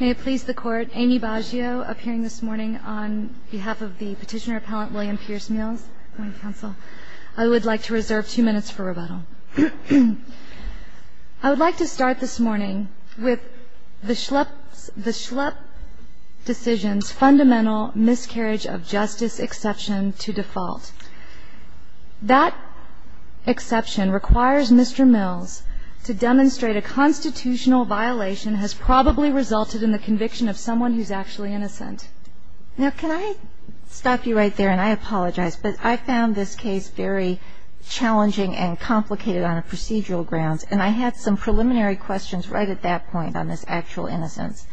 May it please the Court, Amy Baggio appearing this morning on behalf of the Petitioner-Appellant William Pierce Mills. I would like to reserve two minutes for rebuttal. I would like to start this morning with the Schlepp decision's fundamental miscarriage of justice exception to default. That exception requires Mr. Mills to demonstrate a constitutional violation has probably resulted in the conviction of someone who's actually innocent. Now can I stop you right there, and I apologize, but I found this case very challenging and complicated on procedural grounds, and I had some preliminary questions right at that point on this actual innocence.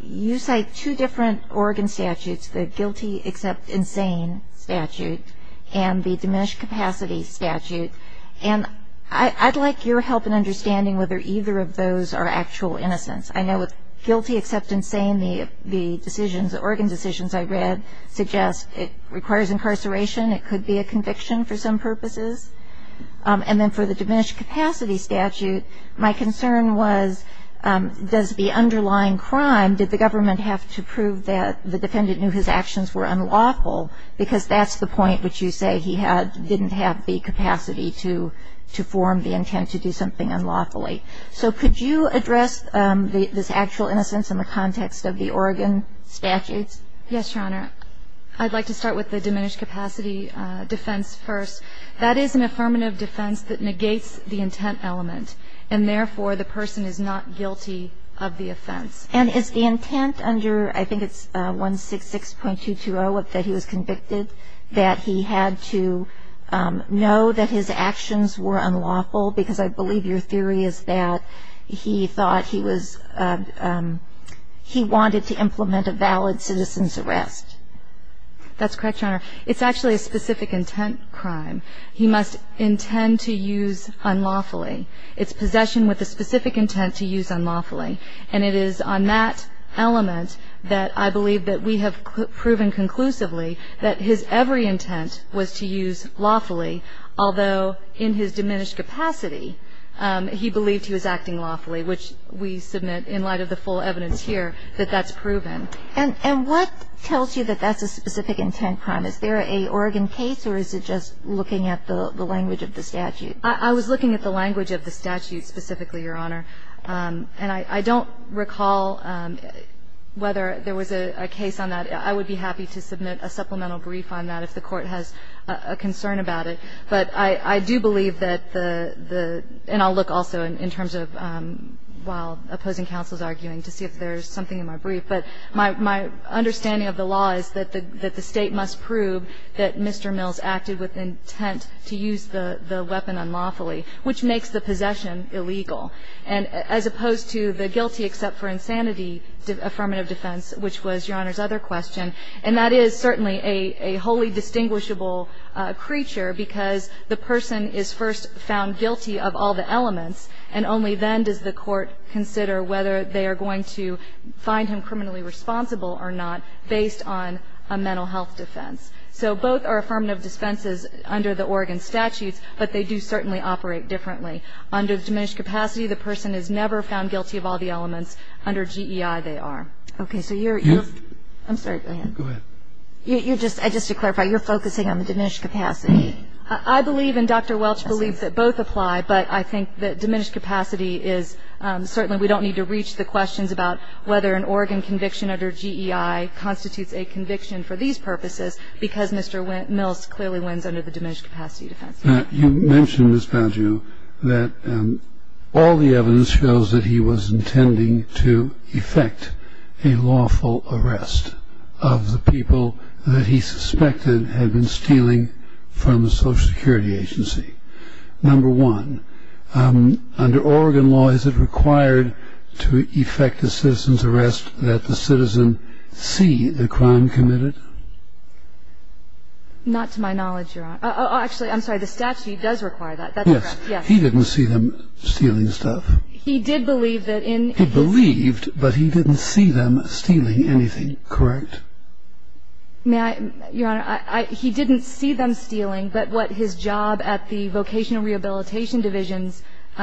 You cite two different organ statutes, the guilty except insane statute and the diminished capacity statute, and I'd like your help in understanding whether either of those are actual innocence. I know with guilty except insane, the decisions, the organ decisions I read suggest it requires incarceration. It could be a conviction for some purposes. And then for the diminished capacity statute, my concern was does the underlying crime, did the government have to prove that the defendant knew his actions were unlawful, because that's the point which you say he didn't have the capacity to form the intent to do something unlawfully. So could you address this actual innocence in the context of the organ statutes? Yes, Your Honor. I'd like to start with the diminished capacity defense first. That is an affirmative defense that negates the intent element, and therefore the person is not guilty of the offense. And is the intent under, I think it's 166.220, that he was convicted, that he had to know that his actions were unlawful, because I believe your theory is that he thought he was, he wanted to implement a valid citizen's arrest. That's correct, Your Honor. It's actually a specific intent crime. He must intend to use unlawfully. It's possession with a specific intent to use unlawfully. And it is on that element that I believe that we have proven conclusively that his every intent was to use lawfully, although in his diminished capacity he believed he was acting lawfully, which we submit in light of the full evidence here that that's proven. And what tells you that that's a specific intent crime? Is there a Oregon case, or is it just looking at the language of the statute? I was looking at the language of the statute specifically, Your Honor. And I don't recall whether there was a case on that. I would be happy to submit a supplemental brief on that if the Court has a concern about it. But I do believe that the – and I'll look also in terms of while opposing counsels my understanding of the law is that the State must prove that Mr. Mills acted with intent to use the weapon unlawfully, which makes the possession illegal. And as opposed to the guilty except for insanity affirmative defense, which was Your Honor's other question, and that is certainly a wholly distinguishable creature because the person is first found guilty of all the elements, and only then does the Court consider whether they are going to find him criminally responsible or not based on a mental health defense. So both are affirmative dispenses under the Oregon statutes, but they do certainly operate differently. Under diminished capacity, the person is never found guilty of all the elements. Under GEI, they are. Okay, so you're – I'm sorry, go ahead. Go ahead. Just to clarify, you're focusing on the diminished capacity? I believe and Dr. Welch believes that both apply, but I think that diminished capacity is – certainly we don't need to reach the questions about whether an Oregon conviction under GEI constitutes a conviction for these purposes because Mr. Mills clearly wins under the diminished capacity defense. You mentioned, Ms. Baggio, that all the evidence shows that he was intending to effect a lawful arrest of the people that he suspected had been stealing from the Social Security Agency. Number one, under Oregon law, is it required to effect a citizen's arrest that the citizen see the crime committed? Not to my knowledge, Your Honor. Actually, I'm sorry, the statute does require that. That's correct, yes. He didn't see them stealing stuff. He did believe that in – He believed, but he didn't see them stealing anything, correct? May I – Your Honor, he didn't see them stealing, but what his job at the Vocational Rehabilitation Division's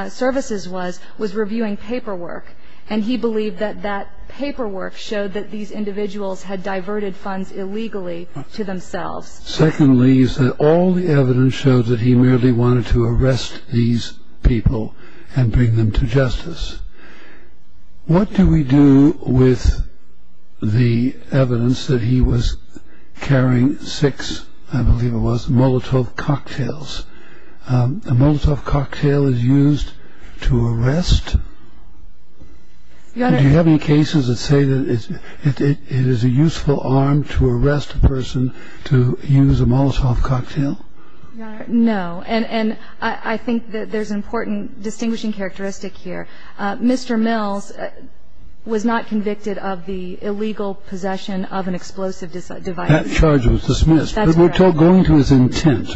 services was, was reviewing paperwork, and he believed that that paperwork showed that these individuals had diverted funds illegally to themselves. Secondly, you said all the evidence showed that he merely wanted to arrest these people and bring them to justice. What do we do with the evidence that he was carrying six, I believe it was, Molotov cocktails? A Molotov cocktail is used to arrest? Do you have any cases that say that it is a useful arm to arrest a person to use a Molotov cocktail? Your Honor, no. And I think that there's an important distinguishing characteristic here. Mr. Mills was not convicted of the illegal possession of an explosive device. That charge was dismissed. That's correct. But we're going to his intent.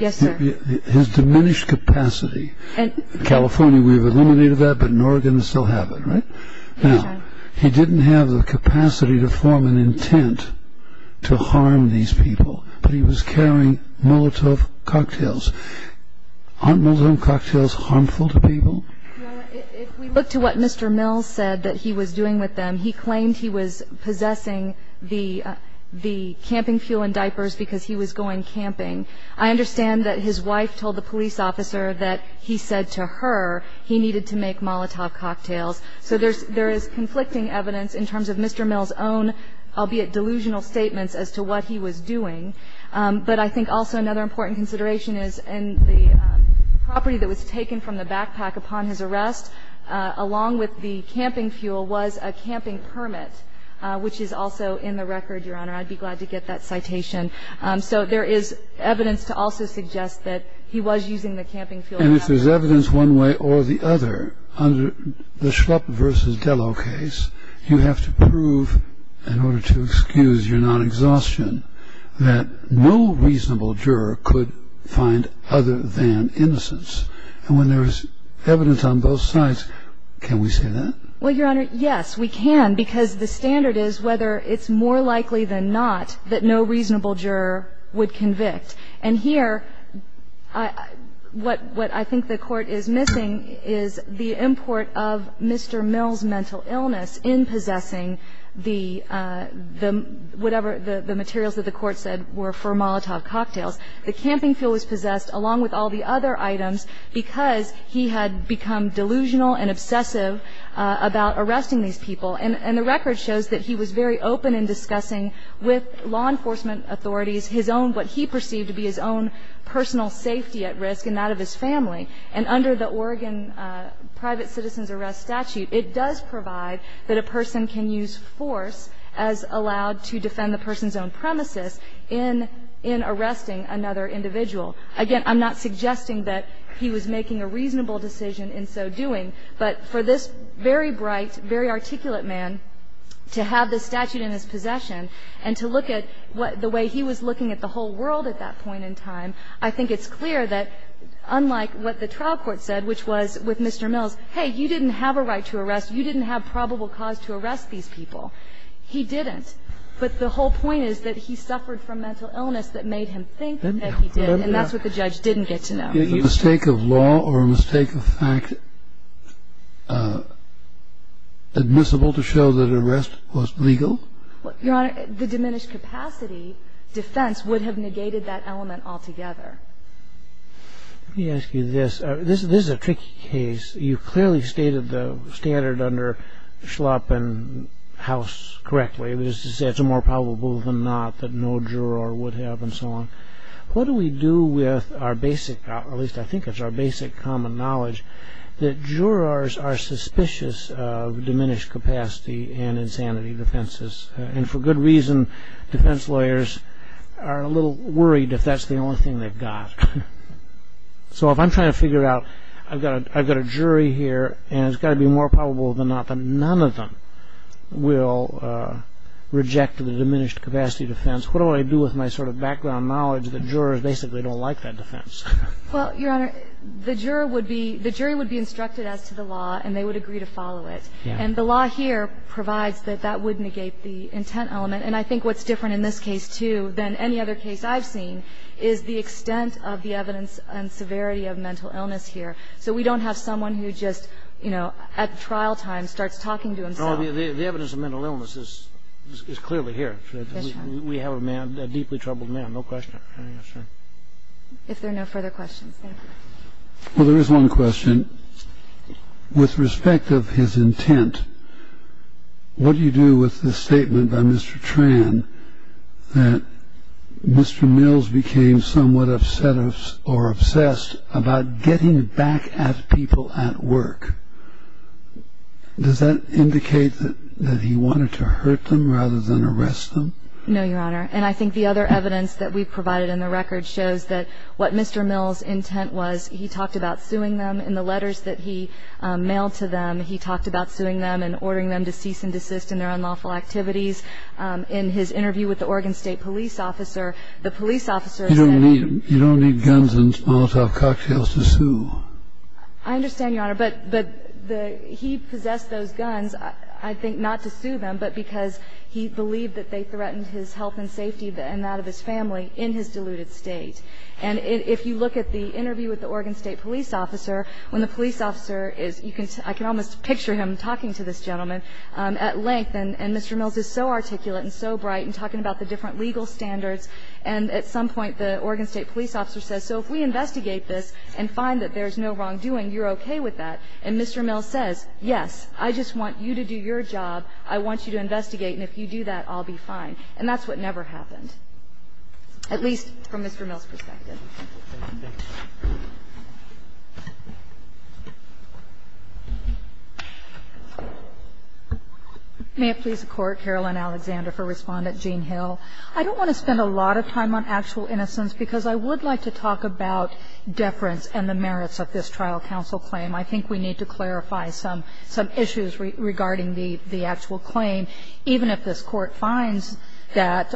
Yes, sir. His diminished capacity. In California, we've eliminated that, but in Oregon, we still have it, right? Now, he didn't have the capacity to form an intent to harm these people, but he was carrying Molotov cocktails. Aren't Molotov cocktails harmful to people? Your Honor, if we look to what Mr. Mills said that he was doing with them, he claimed he was possessing the camping fuel and diapers because he was going camping. I understand that his wife told the police officer that he said to her he needed to make Molotov cocktails. So there is conflicting evidence in terms of Mr. Mills' own, albeit delusional, statements as to what he was doing. But I think also another important consideration is in the property that was taken from the backpack upon his arrest, along with the camping fuel, was a camping permit, which is also in the record, Your Honor. I'd be glad to get that citation. So there is evidence to also suggest that he was using the camping fuel and diapers. Now, if there is evidence one way or the other under the Schlupp v. Dello case, you have to prove, in order to excuse your non-exhaustion, that no reasonable juror could find other than innocence. And when there is evidence on both sides, can we say that? Well, Your Honor, yes, we can, because the standard is whether it's more likely than not that no reasonable juror would convict. And here, what I think the Court is missing is the import of Mr. Mills' mental illness in possessing the whatever the materials that the Court said were for Molotov cocktails. The camping fuel was possessed, along with all the other items, because he had become delusional and obsessive about arresting these people. And the record shows that he was very open in discussing with law enforcement authorities his own, what he perceived to be his own personal safety at risk and that of his family, and under the Oregon private citizen's arrest statute, it does provide that a person can use force as allowed to defend the person's own premises in arresting another individual. Again, I'm not suggesting that he was making a reasonable decision in so doing, but for this very bright, very articulate man to have this statute in his possession and to look at the way he was looking at the whole world at that point in time, I think it's clear that unlike what the trial court said, which was with Mr. Mills, hey, you didn't have a right to arrest, you didn't have probable cause to arrest these people, he didn't. But the whole point is that he suffered from mental illness that made him think that he did, and that's what the judge didn't get to know. The mistake of law or a mistake of fact admissible to show that arrest was legal? Your Honor, the diminished capacity defense would have negated that element altogether. Let me ask you this. This is a tricky case. You clearly stated the standard under Schlapp and House correctly, which is to say it's more probable than not that no juror would have and so on. What do we do with our basic, at least I think it's our basic common knowledge, that jurors are suspicious of diminished capacity and insanity defenses? And for good reason, defense lawyers are a little worried if that's the only thing they've got. So if I'm trying to figure out, I've got a jury here and it's got to be more probable than not that none of them will reject the diminished capacity defense, what do I do with my sort of background knowledge that jurors basically don't like that defense? Well, Your Honor, the jury would be instructed as to the law and they would agree to follow it. And the law here provides that that would negate the intent element. And I think what's different in this case, too, than any other case I've seen, is the extent of the evidence and severity of mental illness here. So we don't have someone who just, you know, at trial time starts talking to himself. No, the evidence of mental illness is clearly here. We have a man, a deeply troubled man, no question. If there are no further questions, thank you. Well, there is one question. With respect of his intent, what do you do with the statement by Mr. Tran that Mr. Mills became somewhat upset or obsessed about getting back at people at work? Does that indicate that he wanted to hurt them rather than arrest them? No, Your Honor. And I think the other evidence that we provided in the record shows that what Mr. Mills' intent was, he talked about suing them. In the letters that he mailed to them, he talked about suing them and ordering them to cease and desist in their unlawful activities. In his interview with the Oregon State police officer, the police officer said... You don't need guns and Molotov cocktails to sue. I understand, Your Honor. But he possessed those guns, I think, not to sue them, but because he believed that they threatened his health and safety and that of his family in his diluted state. And if you look at the interview with the Oregon State police officer, when the police officer is, I can almost picture him talking to this gentleman at length, and Mr. Mills is so articulate and so bright and talking about the different legal standards, and at some point the Oregon State police officer says, so if we investigate this and find that there's no wrongdoing, you're okay with that. And Mr. Mills says, yes, I just want you to do your job. I want you to investigate, and if you do that, I'll be fine. And that's what never happened, at least from Mr. Mills' perspective. May it please the Court, Caroline Alexander, for Respondent Gene Hill. I don't want to spend a lot of time on actual innocence, because I would like to talk about deference and the merits of this trial counsel claim. I think we need to clarify some issues regarding the actual claim, even if this Court finds that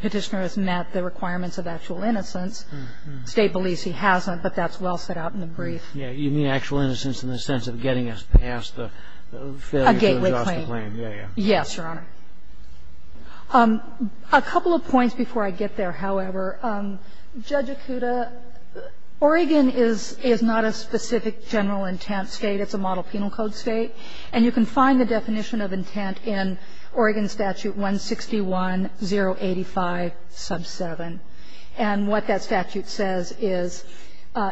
Petitioner has met the requirements of actual innocence. The State believes he hasn't, but that's well set out in the brief. Yeah. You mean actual innocence in the sense of getting us past the failure to adjust the claim. A gateway claim. Yes, Your Honor. A couple of points before I get there, however. Judge Ikuta, Oregon is not a specific general intent State. It's a model penal code State. And you can find the definition of intent in Oregon Statute 161085, sub 7. And what that statute says is,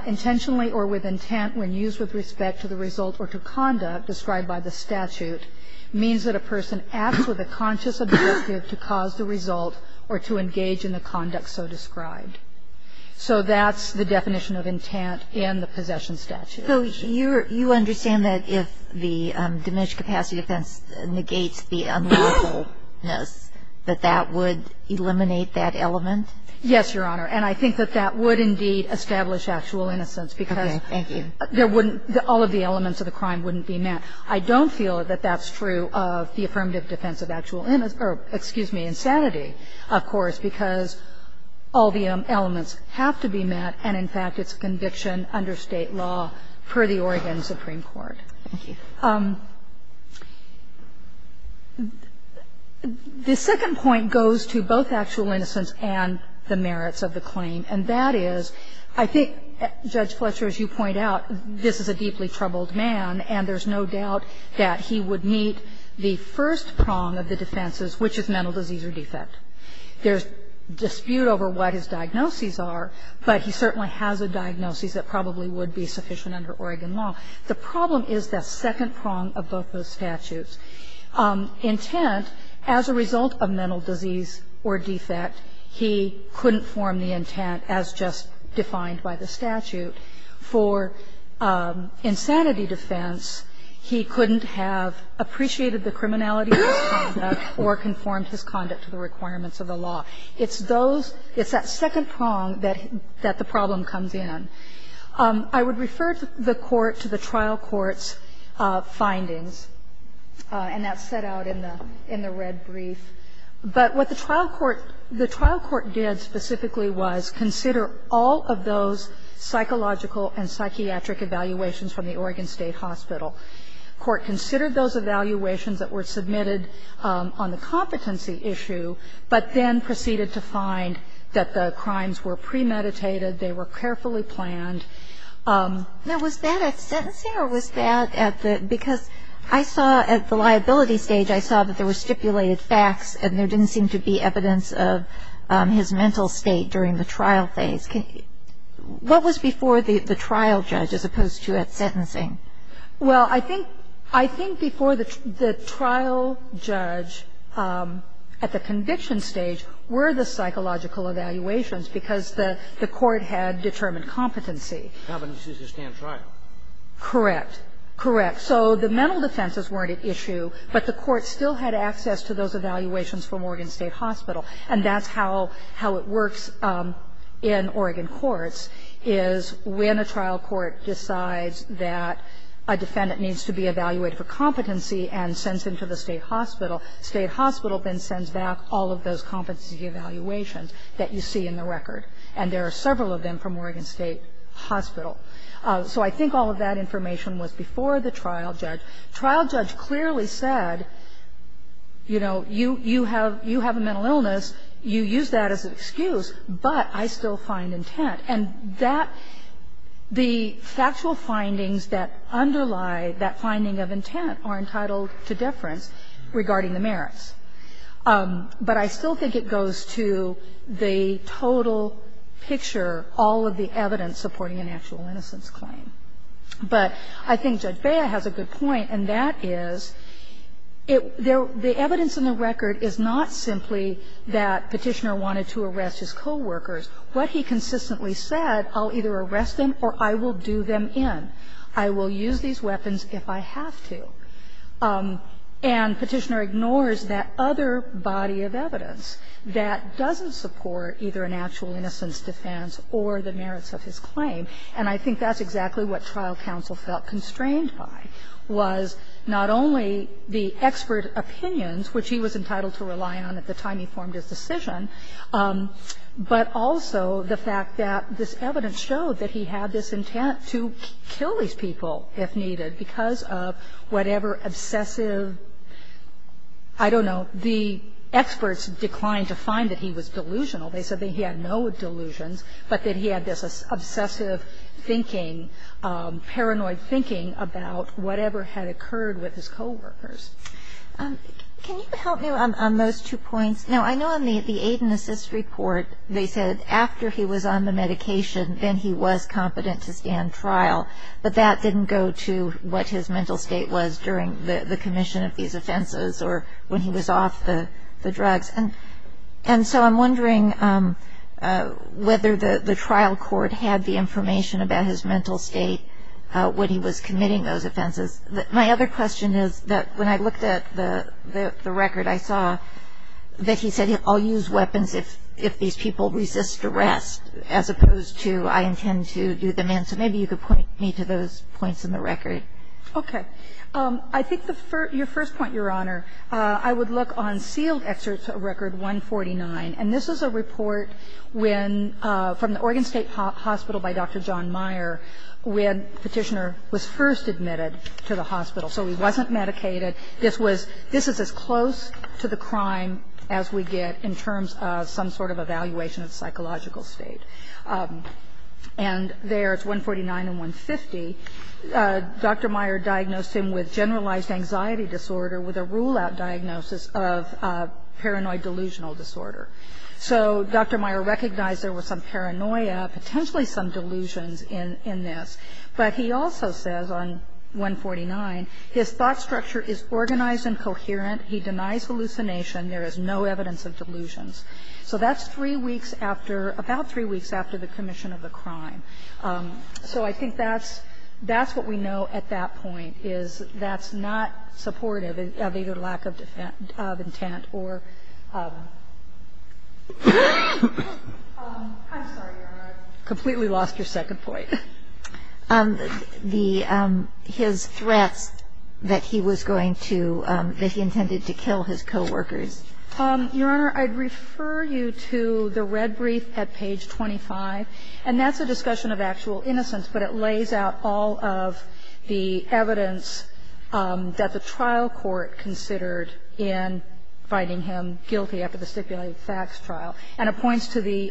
intentionally or with intent when used with respect to the result or to conduct described by the statute means that a person acts with a conscious objective to cause the result or to engage in the conduct so described. So that's the definition of intent in the possession statute. So you understand that if the diminished capacity defense negates the unlawfulness that that would eliminate that element? Yes, Your Honor. And I think that that would indeed establish actual innocence because there wouldn't all of the elements of the crime wouldn't be met. I don't feel that that's true of the affirmative defense of actual innocence or, excuse me, insanity, of course, because all the elements have to be met and, in fact, it's a conviction under State law per the Oregon Supreme Court. Thank you. The second point goes to both actual innocence and the merits of the claim. And that is, I think, Judge Fletcher, as you point out, this is a deeply troubled man, and there's no doubt that he would meet the first prong of the defenses, which is mental disease or defect. There's dispute over what his diagnoses are, but he certainly has a diagnosis that probably would be sufficient under Oregon law. The problem is that second prong of both those statutes. Intent, as a result of mental disease or defect, he couldn't form the intent as just defined by the statute. For insanity defense, he couldn't have appreciated the criminality of his conduct or conformed his conduct to the requirements of the law. It's those – it's that second prong that the problem comes in. I would refer the Court to the trial court's findings. And that's set out in the red brief. But what the trial court did specifically was consider all of those psychological and psychiatric evaluations from the Oregon State Hospital. The Court considered those evaluations that were submitted on the competency issue, but then proceeded to find that the crimes were premeditated, they were carefully planned. Now, was that at sentencing or was that at the – because I saw at the liability stage, I saw that there were stipulated facts and there didn't seem to be evidence of his mental state during the trial phase. What was before the trial judge as opposed to at sentencing? Well, I think before the trial judge at the conviction stage were the psychological evaluations because the court had determined competency. Competency to stand trial. Correct. Correct. So the mental defenses weren't at issue, but the court still had access to those evaluations from Oregon State Hospital. And that's how it works in Oregon courts, is when a trial court decides that a defendant needs to be evaluated for competency and sends him to the State Hospital, State that you see in the record. And there are several of them from Oregon State Hospital. So I think all of that information was before the trial judge. Trial judge clearly said, you know, you have a mental illness, you use that as an excuse, but I still find intent. And that – the factual findings that underlie that finding of intent are entitled to deference regarding the merits. But I still think it goes to the total picture, all of the evidence supporting an actual innocence claim. But I think Judge Bea has a good point, and that is the evidence in the record is not simply that Petitioner wanted to arrest his coworkers. What he consistently said, I'll either arrest them or I will do them in. I will use these weapons if I have to. And Petitioner ignores that other body of evidence that doesn't support either an actual innocence defense or the merits of his claim. And I think that's exactly what trial counsel felt constrained by, was not only the expert opinions, which he was entitled to rely on at the time he formed his decision, but also the fact that this evidence showed that he had this intent to kill these people if needed because of whatever obsessive, I don't know, the experts declined to find that he was delusional. They said that he had no delusions, but that he had this obsessive thinking, paranoid thinking about whatever had occurred with his coworkers. Can you help me on those two points? Now, I know in the aid and assist report they said after he was on the medication then he was competent to stand trial. But that didn't go to what his mental state was during the commission of these offenses or when he was off the drugs. And so I'm wondering whether the trial court had the information about his mental state when he was committing those offenses. My other question is that when I looked at the record I saw that he said, I'll use weapons if these people resist arrest as opposed to I intend to do them in. So maybe you could point me to those points in the record. Okay. I think the first, your first point, Your Honor, I would look on sealed excerpts of record 149. And this is a report when, from the Oregon State Hospital by Dr. John Meyer, when Petitioner was first admitted to the hospital. So he wasn't medicated. This was, this is as close to the crime as we get in terms of some sort of evaluation of psychological state. And there it's 149 and 150. Dr. Meyer diagnosed him with generalized anxiety disorder with a rule-out diagnosis of paranoid delusional disorder. So Dr. Meyer recognized there was some paranoia, potentially some delusions in this. But he also says on 149, his thought structure is organized and coherent. He denies hallucination. There is no evidence of delusions. So that's three weeks after, about three weeks after the commission of the crime. So I think that's, that's what we know at that point, is that's not supportive of either lack of intent or. I'm sorry, Your Honor. I completely lost your second point. The, his threats that he was going to, that he intended to kill his coworkers. Your Honor, I'd refer you to the red brief at page 25. And that's a discussion of actual innocence. But it lays out all of the evidence that the trial court considered in finding him guilty after the stipulated facts trial. And it points to the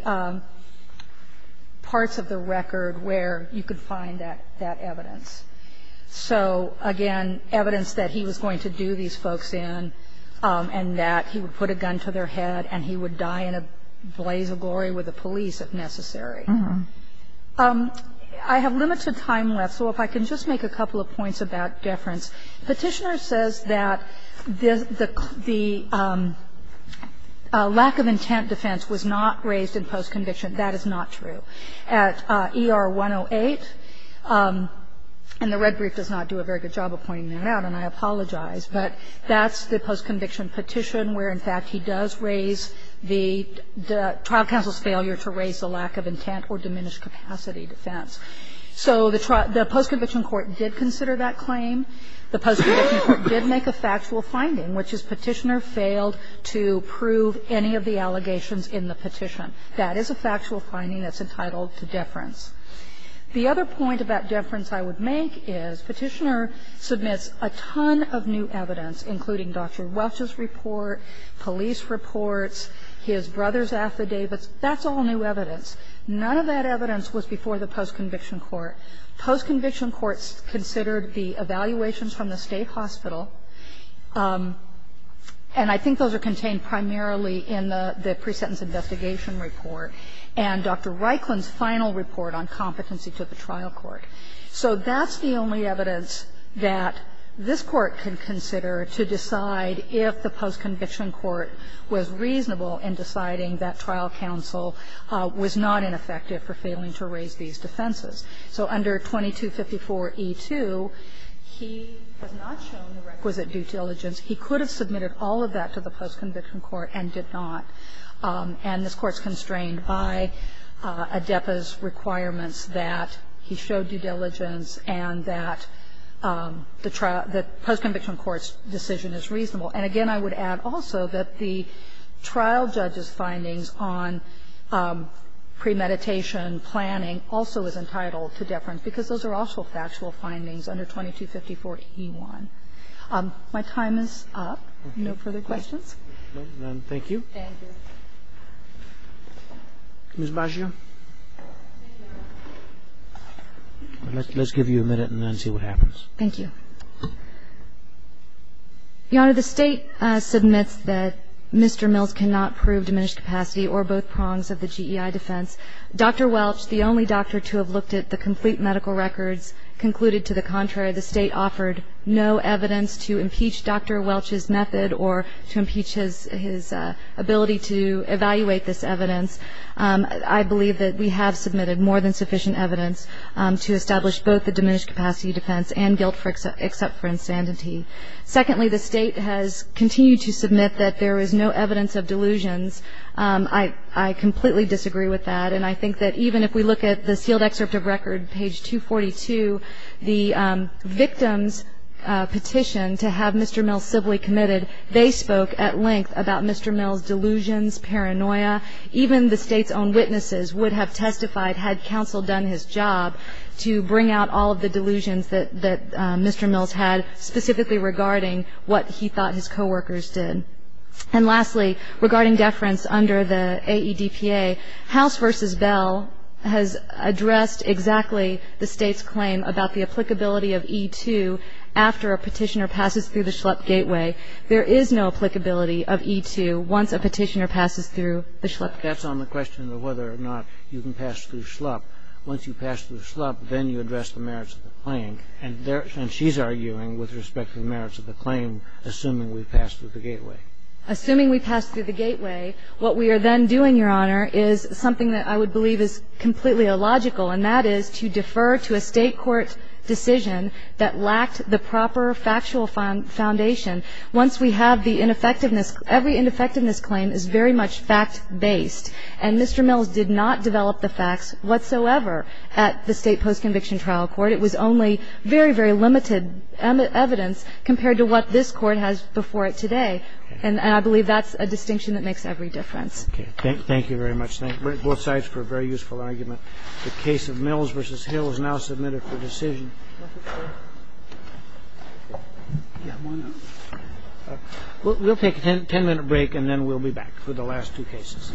parts of the record where you could find that, that evidence. So again, evidence that he was going to do these folks in and that he would put a gun to their head and he would die in a blaze of glory with the police if necessary. I have limited time left, so if I can just make a couple of points about deference. Petitioner says that the lack of intent defense was not raised in post-conviction. That is not true. At ER 108, and the red brief does not do a very good job of pointing that out, and I apologize. But that's the post-conviction petition where, in fact, he does raise the trial counsel's failure to raise the lack of intent or diminished capacity defense. So the post-conviction court did consider that claim. The post-conviction court did make a factual finding, which is Petitioner failed to prove any of the allegations in the petition. That is a factual finding that's entitled to deference. The other point about deference I would make is Petitioner submits a ton of new evidence, including Dr. Welch's report, police reports, his brother's affidavits. That's all new evidence. None of that evidence was before the post-conviction court. Post-conviction courts considered the evaluations from the State Hospital, and I think those are contained primarily in the pre-sentence investigation report and Dr. Reikland's final report on competency to the trial court. So that's the only evidence that this Court can consider to decide if the post-conviction court was reasonable in deciding that trial counsel was not ineffective for failing to raise these defenses. So under 2254e2, he has not shown the requisite due diligence. He could have submitted all of that to the post-conviction court and did not. And this Court's constrained by ADEPA's requirements that he showed due diligence and that the post-conviction court's decision is reasonable. And again, I would add also that the trial judge's findings on premeditation planning also is entitled to deference, because those are also factual findings under 2254e1. My time is up. No further questions? Thank you. Ms. Baggio. Let's give you a minute and then see what happens. Thank you. Your Honor, the State submits that Mr. Mills cannot prove diminished capacity or both prongs of the GEI defense. Dr. Welch, the only doctor to have looked at the complete medical records, concluded to the contrary. The State offered no evidence to impeach Dr. Welch's method or to impeach his ability to evaluate this evidence. I believe that we have submitted more than sufficient evidence to establish both the diminished capacity defense and guilt except for insanity. Secondly, the State has continued to submit that there is no evidence of delusions. I completely disagree with that. And I think that even if we look at the sealed excerpt of record, page 242, the victim's petition to have Mr. Mills civilly committed, they spoke at length about Mr. Mills' delusions, paranoia. Even the State's own witnesses would have testified, had counsel done his job, to bring out all of the delusions that Mr. Mills had, specifically regarding what he thought his coworkers did. And lastly, regarding deference under the AEDPA, House v. Bell has addressed exactly the State's claim about the applicability of E-2 after a petitioner passes through the Schlupp gateway. There is no applicability of E-2 once a petitioner passes through the Schlupp gateway. That's on the question of whether or not you can pass through Schlupp. Once you pass through Schlupp, then you address the merits of the claim. And she's arguing with respect to the merits of the claim, assuming we pass through the gateway. Assuming we pass through the gateway, what we are then doing, Your Honor, is something that I would believe is completely illogical, and that is to defer to a State court decision that lacked the proper factual foundation. Once we have the ineffectiveness, every ineffectiveness claim is very much fact-based. And Mr. Mills did not develop the facts whatsoever at the State post-conviction trial court. It was only very, very limited evidence compared to what this Court has before it today. And I believe that's a distinction that makes every difference. Thank you very much. Thank both sides for a very useful argument. The case of Mills v. Hill is now submitted for decision. We'll take a 10-minute break, and then we'll be back for the last two cases.